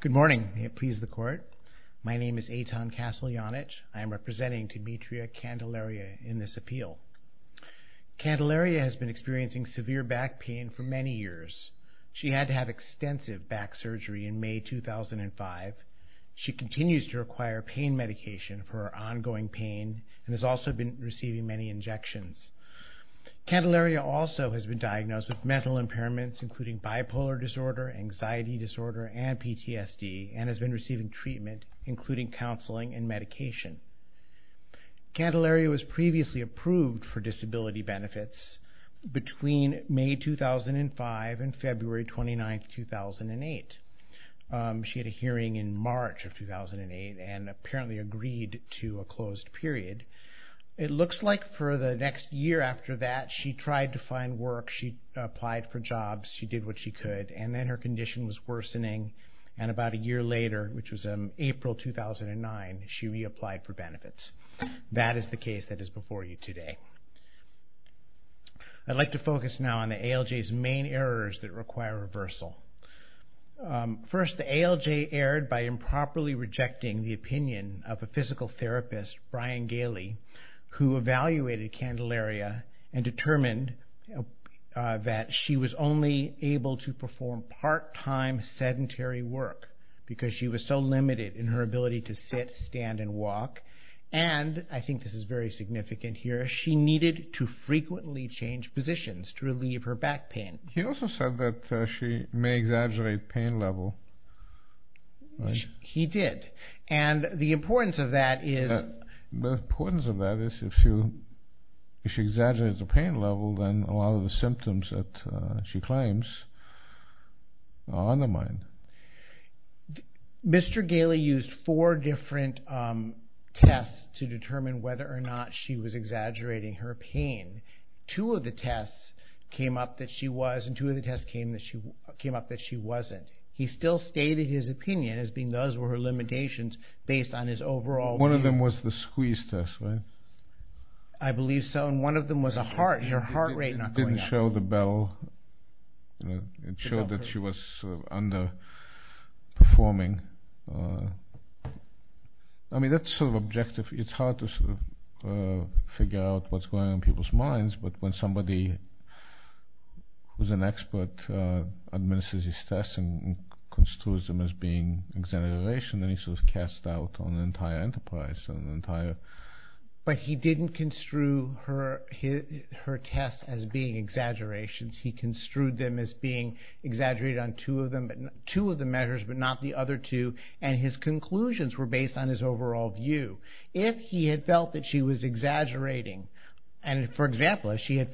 Good morning. May it please the court. My name is Eitan Kasteljanich. I am representing Dimitria Candelaria in this appeal. Candelaria has been experiencing severe back pain for many years. She had to have extensive back surgery in May 2005. She continues to require pain medication for her ongoing pain and has also been receiving many injections. Candelaria has also been diagnosed with mental impairments including bipolar disorder, anxiety disorder and PTSD and has been receiving treatment including counseling and medication. Candelaria was previously approved for disability benefits between May 2005 and February 29, 2008. She had a hearing in March of 2008 and apparently agreed to a closed period. It looks like for the next year after that she tried to find work. She applied for jobs. She did what she could and then her condition was worsening and about a year later which was April 2009 she reapplied for benefits. That is the case that is before you today. I'd like to focus now on the ALJ's main errors that require reversal. First the ALJ erred by improperly evaluating Candelaria and determined that she was only able to perform part-time sedentary work because she was so limited in her ability to sit, stand and walk and I think this is very significant here, she needed to frequently change positions to relieve her back pain. He also said that she may exaggerate pain level. He did and the importance of that is if she exaggerates the pain level then a lot of the symptoms that she claims are undermined. Mr. Galey used four different tests to determine whether or not she was exaggerating her pain. Two of the tests came up that she was and two of the tests came up that she wasn't. He still stated his opinion as being those were her limitations based on his overall opinion. One of them was the squeeze test, right? I believe so and one of them was a heart, your heart rate not going up. It didn't show the bell, it showed that she was underperforming. I mean that's sort of objective, it's hard to figure out what's going on in people's minds but when somebody who's an expert administers his tests and construes them as being exaggeration then he's sort of cast out on the entire enterprise. But he didn't construe her tests as being exaggerations, he construed them as being exaggerated on two of the measures but not the other two and his conclusions were based on his overall view. If he had felt that she was exaggerating and for example if she had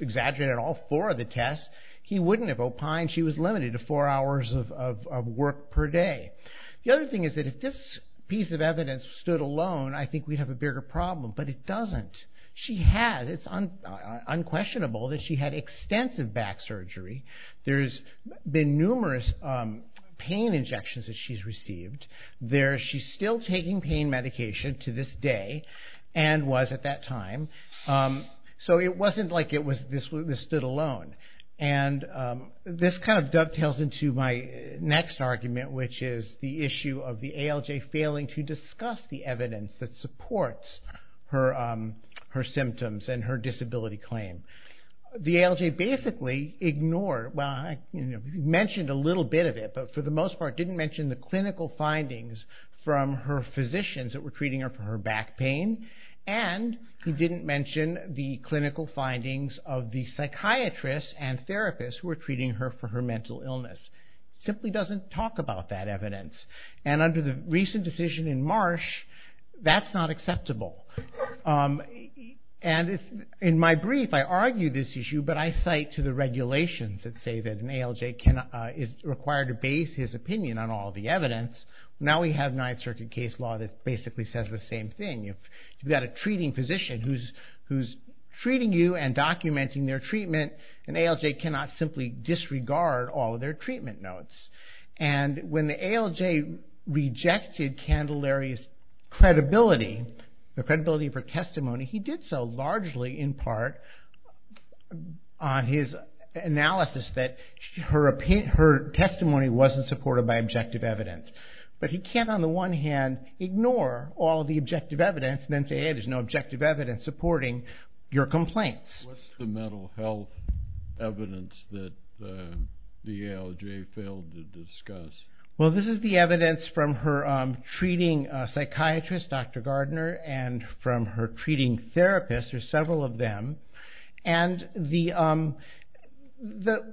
exaggerated on all four of the tests he wouldn't have opined she was limited to four hours of work per day. The other thing is that if this piece of evidence stood alone I think we'd have a bigger problem but it doesn't. She has, it's unquestionable that she had extensive back surgery. There's been numerous pain injections that she's received. She's still taking pain medication to this day and was at that time. So it wasn't like it was this stood alone and this kind of dovetails into my next argument which is the issue of the ALJ failing to discuss the evidence that supports her symptoms and her disability claim. The ALJ basically ignored, well mentioned a little bit of it but for the most part didn't mention the clinical findings from her physicians that were treating her for her back pain and he didn't mention the clinical findings of the psychiatrists and therapists who were treating her for her mental illness. Simply doesn't talk about that evidence and under the recent decision in Marsh that's not acceptable and in my brief I argue this issue but I cite to the regulations that say that an ALJ is required to base his opinion on all the evidence. Now we have Ninth Circuit case law that's basically says the same thing. You've got a treating physician who's treating you and documenting their treatment. An ALJ cannot simply disregard all of their treatment notes and when the ALJ rejected Candelaria's credibility, the credibility of her testimony, he did so largely in part on his analysis that her testimony wasn't supported by objective evidence but he can't on the one hand ignore all the objective evidence and then say hey there's no objective evidence supporting your complaints. What's the mental health evidence that the ALJ failed to discuss? Well this is the evidence from her treating psychiatrist Dr. Gardner and from her treating therapist there's several of them and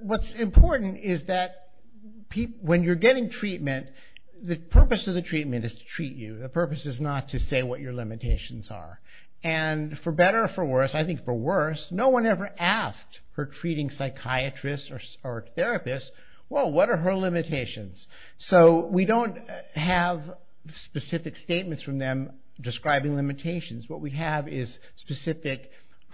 what's important is that when you're getting treatment the purpose of the treatment is to treat you. The purpose is not to say what your limitations are and for better or for worse I think for worse no one ever asked her treating psychiatrist or therapist well what are her limitations? So we don't have specific statements from them describing limitations. What we have is specific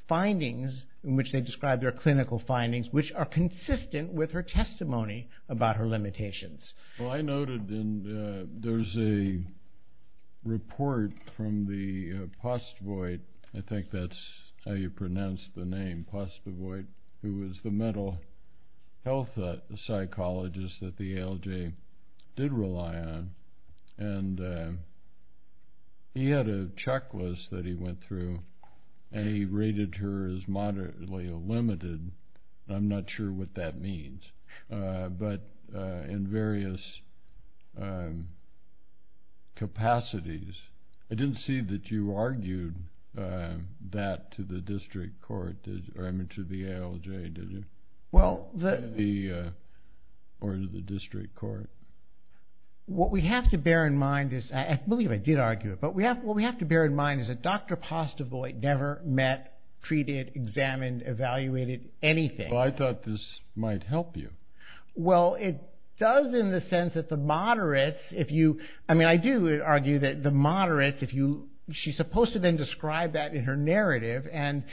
findings in which they describe their clinical findings which are consistent with her testimony about her limitations. Well I noted in there's a report from the Postvoit, I think that's how you pronounce the name, Postvoit who was the mental health psychologist that the ALJ did rely on and he had a checklist that he went through and he rated her as moderately limited. I'm not sure if that's true. I'm just curious. I didn't see that you argued that to the district court, or I mean to the ALJ did you? Or to the district court? What we have to bear in mind is, I believe I did argue it, but what we have to bear in mind is that Dr. Postvoit never met, treated, examined, evaluated anything. Well I thought this might help you. Well it does in the sense that the moderates, I mean I do argue that the moderates, she's supposed to then describe that in her narrative and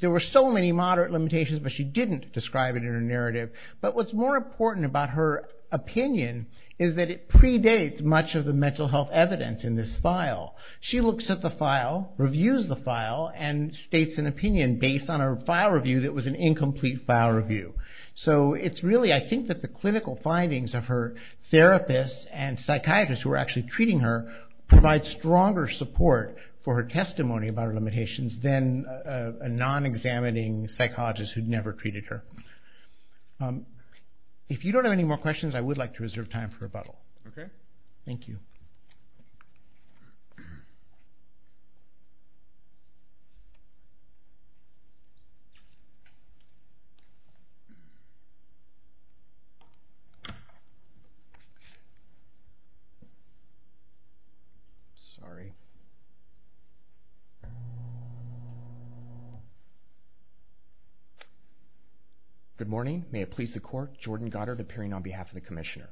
there were so many moderate limitations but she didn't describe it in her narrative. But what's more important about her opinion is that it predates much of the mental health evidence in this file. She looks at the file, reviews the file, and states an opinion based on her file review that was an incomplete file review. So it's really I think that the clinical findings of her therapists and psychiatrists who were actually treating her provide stronger support for her testimony about her limitations than a non-examining psychologist who'd never treated her. If you don't have any more questions I would like to reserve time for rebuttal. Good morning, may it please the court, Jordan Goddard appearing on behalf of the Commissioner.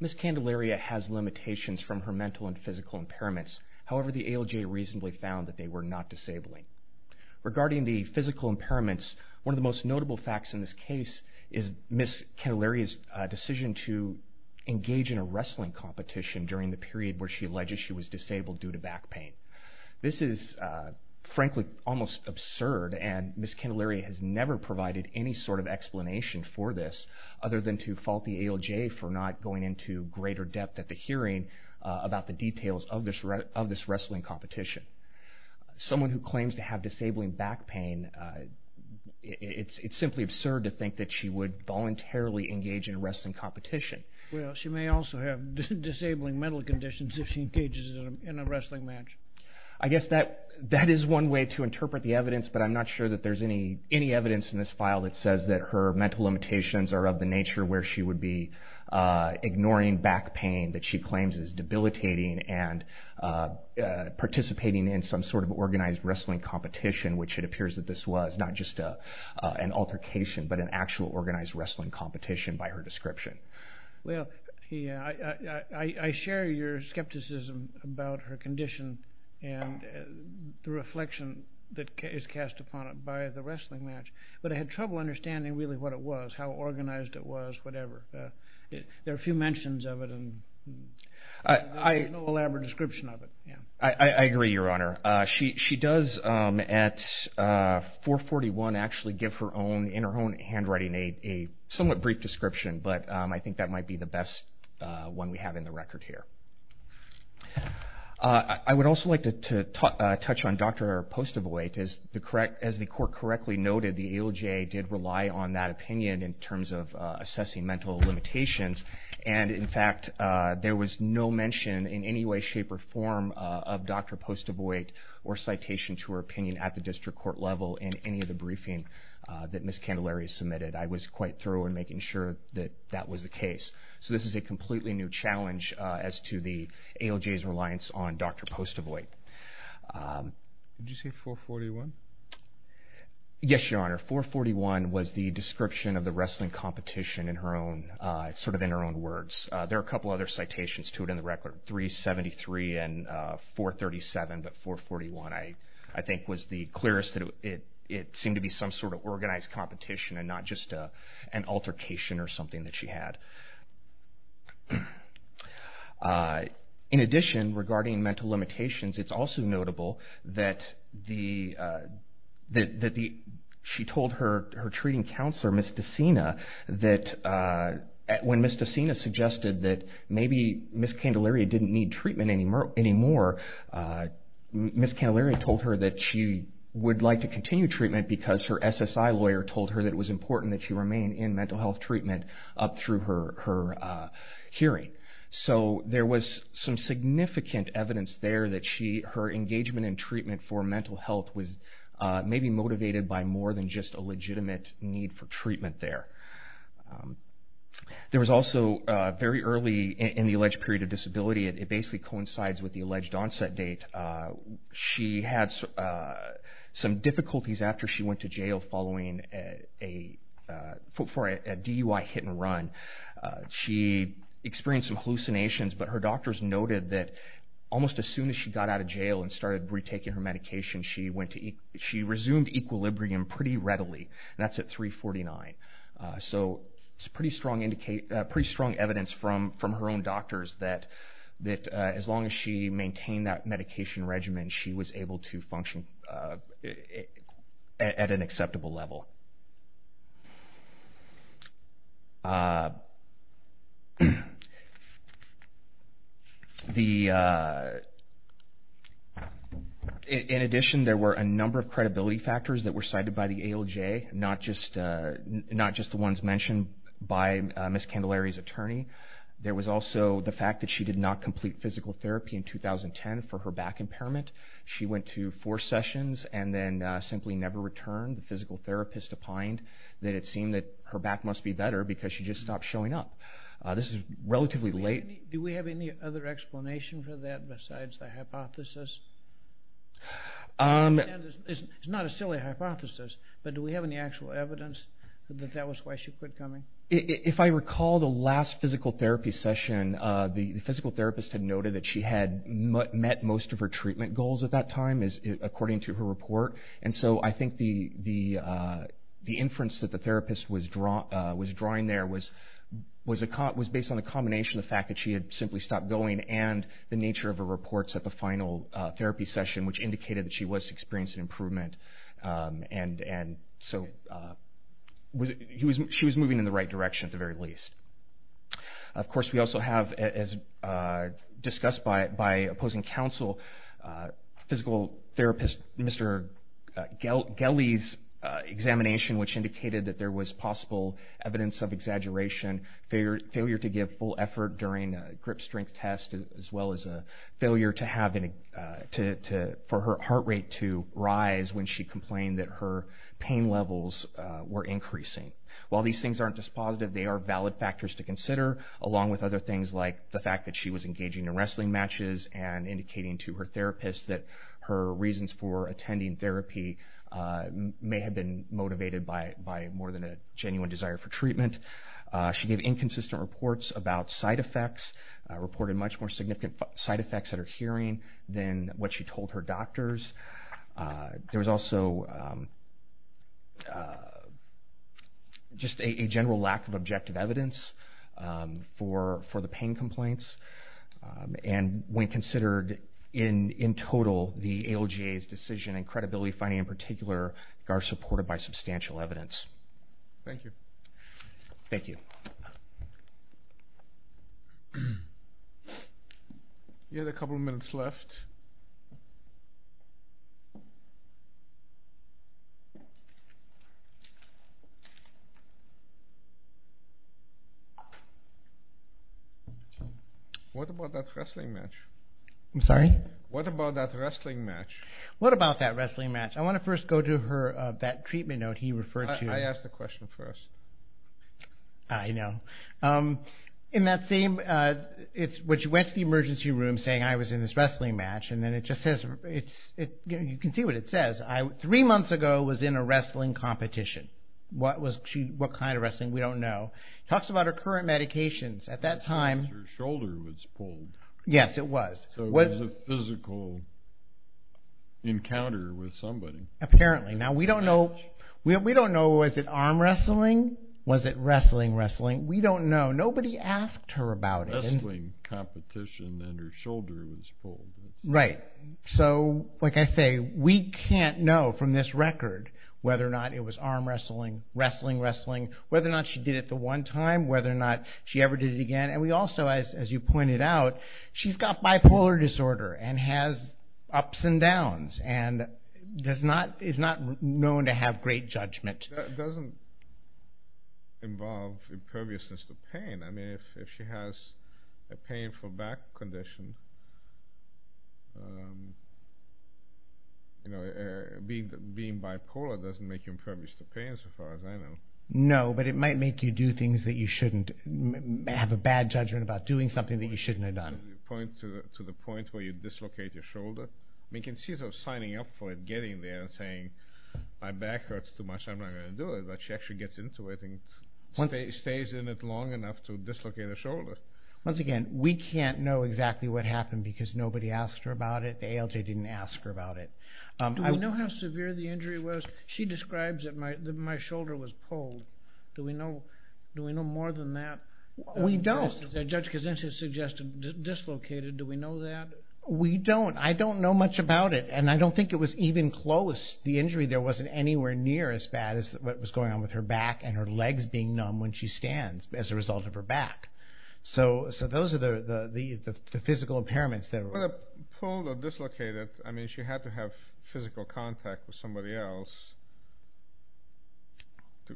Ms. Candelaria has limitations from her mental and physical impairments, however the ALJ reasonably found that they were not disabling. Regarding the physical impairments, one of the most notable facts in this case is Ms. Candelaria's decision to engage in a wrestling competition during the period where she alleges she was disabled due to back pain. This is frankly almost absurd and Ms. Candelaria has never provided any sort of explanation for this other than to fault the ALJ for not going into greater depth at the hearing about the condition. Someone who claims to have disabling back pain, it's simply absurd to think that she would voluntarily engage in a wrestling competition. She may also have disabling mental conditions if she engages in a wrestling match. I guess that is one way to interpret the evidence, but I'm not sure that there's any evidence in this file that says that her mental limitations are of the nature where she would be ignoring back pain that she claims is debilitating and participating in some sort of organized wrestling competition, which it appears that this was not just an altercation, but an actual organized wrestling competition by her description. Well, I share your skepticism about her condition and the reflection that is cast upon it by the wrestling match, but I had trouble understanding really what it was, how organized it was, whatever. There are a few mentions of it and there's no elaborate description of it. I agree, Your Honor. She does at 441 actually give in her own handwriting a somewhat brief description, but I think that might be the best one we have in the record here. I would also like to touch on Dr. Postavoy. As the court correctly noted, the ALJ did not make any mention in any way, shape, or form of Dr. Postavoy or citation to her opinion at the district court level in any of the briefing that Ms. Candelaria submitted. I was quite thorough in making sure that that was the case, so this is a completely new challenge as to the ALJ's reliance on Dr. Postavoy. Did you say 441? Yes, Your Honor. 441 was the description of the wrestling competition in her own words. There are a couple other citations to it in the record, 373 and 437, but 441 I think was the clearest. It seemed to be some sort of organized competition and not just an altercation or something that she had. In addition, regarding mental limitations, it's also notable that she told her treating counselor, Ms. DeSina, that when Ms. DeSina suggested that maybe Ms. Candelaria didn't need treatment anymore, Ms. Candelaria told her that she would like to continue treatment because her SSI lawyer told her that it was important that she remain in mental health treatment up through her hearing. So there was some significant evidence there that her engagement in treatment for mental health was maybe motivated by more than just a legitimate need for treatment there. There was also very early in the alleged period of disability, it basically coincides with the alleged onset date, she had some difficulties after she went to jail following a DUI that hit and run. She experienced some hallucinations, but her doctors noted that almost as soon as she got out of jail and started retaking her medication, she resumed equilibrium pretty readily. That's at 349. So it's pretty strong evidence from her own doctors that as long as she maintained that medication regimen, she was able to function at an acceptable level. In addition, there were a number of credibility factors that were cited by the ALJ, not just the ones mentioned by Ms. Candelaria's attorney. There was also the fact that she did not complete physical therapy in 2010 for her back impairment. She went to four sessions and then simply never returned. The physical therapist opined that it seemed that her back must be better because she just stopped showing up. This is relatively late. Do we have any other explanation for that besides the hypothesis? It's not a silly hypothesis, but do we have any actual evidence that that was why she quit coming? If I recall the last physical therapy session, the physical therapist had noted that she had met most of her treatment goals at that time, according to her report. So I think the inference that the therapist was drawing there was based on a combination of the fact that she had simply stopped going and the nature of her reports at the final therapy session, which indicated that she was experiencing improvement. So she was moving in the right direction at the very least. Of course, we also have, as discussed by opposing counsel, physical therapist Mr. Gellie's examination, which indicated that there was possible evidence of exaggeration, failure to give full effort during a grip strength test, as well as a failure for her heart rate to rise when she complained that her pain levels were increasing. While these things aren't just positive, they are valid factors to consider, along with other things like the fact that she was engaging in wrestling matches and indicating to her therapist that her reasons for attending therapy may have been motivated by more than a genuine desire for treatment. She gave inconsistent reports about side effects, reported much more significant side effects at her hearing than what she told her doctors. There was also just a general lack of objective evidence for the pain complaints, and when considered in total, the ALGA's decision and credibility finding in particular are supported by substantial evidence. Thank you. Thank you. We have a couple of minutes left. What about that wrestling match? I'm sorry? What about that wrestling match? What about that wrestling match? I want to first go to that treatment note he referred to. I asked the question first. I know. In that same, when she went to the emergency room saying, I was in this wrestling match, and then it just says, you can see what it says, three months ago was in a wrestling competition. What kind of wrestling? We don't know. Talks about her current medications. At that time... Her shoulder was pulled. Yes, it was. So it was a physical encounter with somebody. Apparently. Now we don't know, we don't know, was it arm wrestling? Was it wrestling, wrestling? We don't know. Nobody asked her about it. A wrestling competition and her shoulder was pulled. Right. So, like I say, we can't know from this record whether or not it was arm wrestling, wrestling, wrestling, whether or not she did it the one time, whether or not she ever did it again. And we also, as you pointed out, she's got bipolar disorder and has ups and downs and is not known to have great judgment. That doesn't involve imperviousness to pain. I mean, if she has a painful back condition, being bipolar doesn't make you impervious to pain as far as I know. No, but it might make you do things that you shouldn't, have a bad judgment about doing something that you shouldn't have done. Does it point to the point where you dislocate your shoulder? We can see her signing up for it, getting there and saying, my back hurts too much, I'm not going to do it. But she actually gets into it and stays in it long enough to dislocate her shoulder. Once again, we can't know exactly what happened because nobody asked her about it. The ALJ didn't ask her about it. Do we know how severe the injury was? She describes that my shoulder was pulled. Do we know more than that? We don't. Judge Kazinska suggested dislocated. Do we know that? We don't. I don't know much about it and I don't think it was even close. The injury there wasn't anywhere near as bad as what was going on with her back and her legs being numb when she stands as a result of her back. So those are the physical impairments. Pulled or dislocated, I mean, she had to have physical contact with somebody else to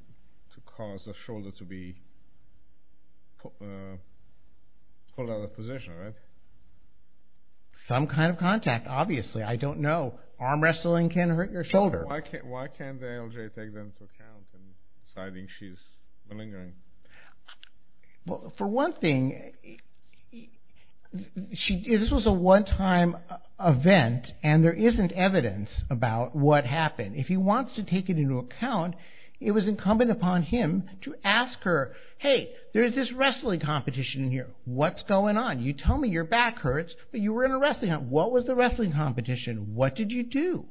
cause the shoulder to be pulled out of position, right? Some kind of contact, obviously. I don't know. Arm wrestling can hurt your shoulder. Why can't the ALJ take them into account in deciding she's malingering? Well, for one thing, this was a one-time event and there isn't evidence about what happened. If he wants to take it into account, it was incumbent upon him to ask her, hey, there's this wrestling competition here, what's going on? You tell me your back hurts but you were in a wrestling competition. What was the wrestling competition? What did you do?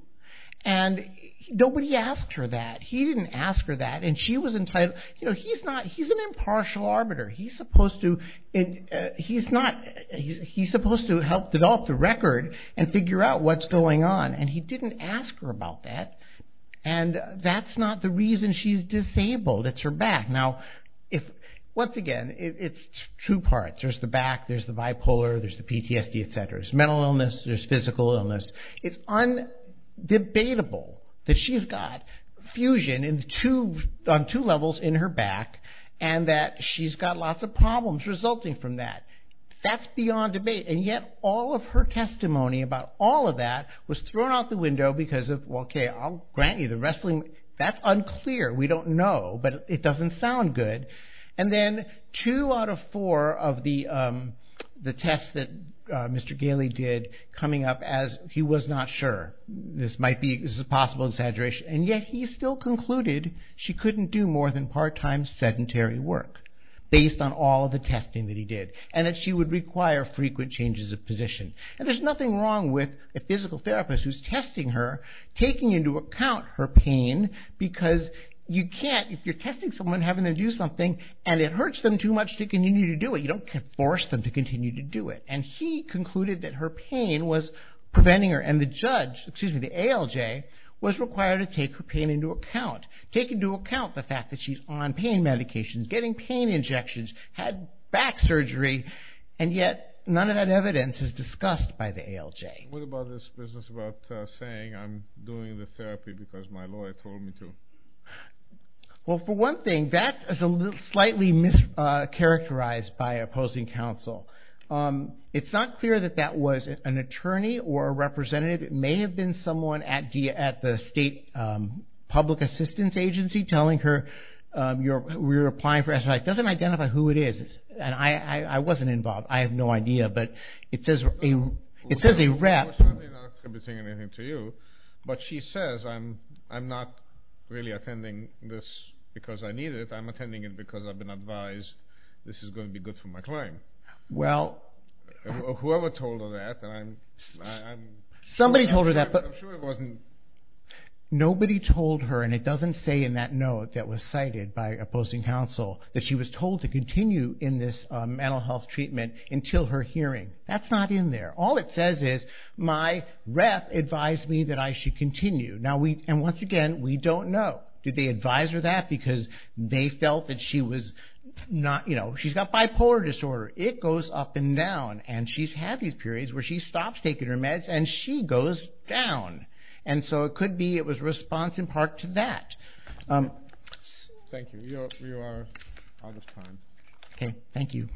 Nobody asked her that. He didn't ask her that. He's an impartial arbiter. He's supposed to help develop the record and figure out what's going on and he didn't ask her about that. That's not the reason she's disabled. It's her back. Once again, it's two parts. There's the back, there's the bipolar, there's the PTSD, etc. There's mental illness, there's physical illness. It's undebatable that she's got fusion on two levels in her back and that she's got lots of problems resulting from that. That's beyond debate and yet all of her testimony about all of that was thrown out the window because of, well, okay, I'll grant you the wrestling. That's unclear. We don't know but it doesn't sound good. Then two out of four of the tests that Mr. Gailey did coming up as he was not sure. This is a possible exaggeration and yet he still concluded she couldn't do more than part-time sedentary work based on all of the testing that he did and that she would require frequent changes of position. There's nothing wrong with a physical therapist who's testing her, taking into account her pain because you can't, if you're testing someone, having them do something and it hurts them too much to continue to do it. You don't force them to continue to do it. He concluded that her pain was preventing her and the judge, excuse me, the ALJ, was required to take her pain into account. Take into account the fact that she's on pain medications, getting pain injections, had back surgery and yet none of that evidence is discussed by the ALJ. What about this business about saying I'm doing the therapy because my lawyer told me to? Well, for one thing, that is slightly mischaracterized by opposing counsel. It's not clear that that was an attorney or a representative. It may have been someone at the state public assistance agency telling her we're applying for it. It doesn't identify who it is. I wasn't involved. I have no idea. But it says a rep. I'm not attributing anything to you, but she says I'm not really attending this because I need it. I'm attending it because I've been advised this is going to be good for my client. Whoever told her that? Somebody told her that. Nobody told her, and it doesn't say in that note that was cited by opposing counsel, that she was told to continue in this mental health treatment until her hearing. That's not in there. All it says is my rep advised me that I should continue. Now we, and once again, we don't know. Did they advise her that because they felt that she was not, you know, she's got bipolar disorder. It goes up and down, and she's had these periods where she stops taking her meds and she goes down. And so it could be it was response in part to that. Thank you. You are out of time. Okay. Thank you.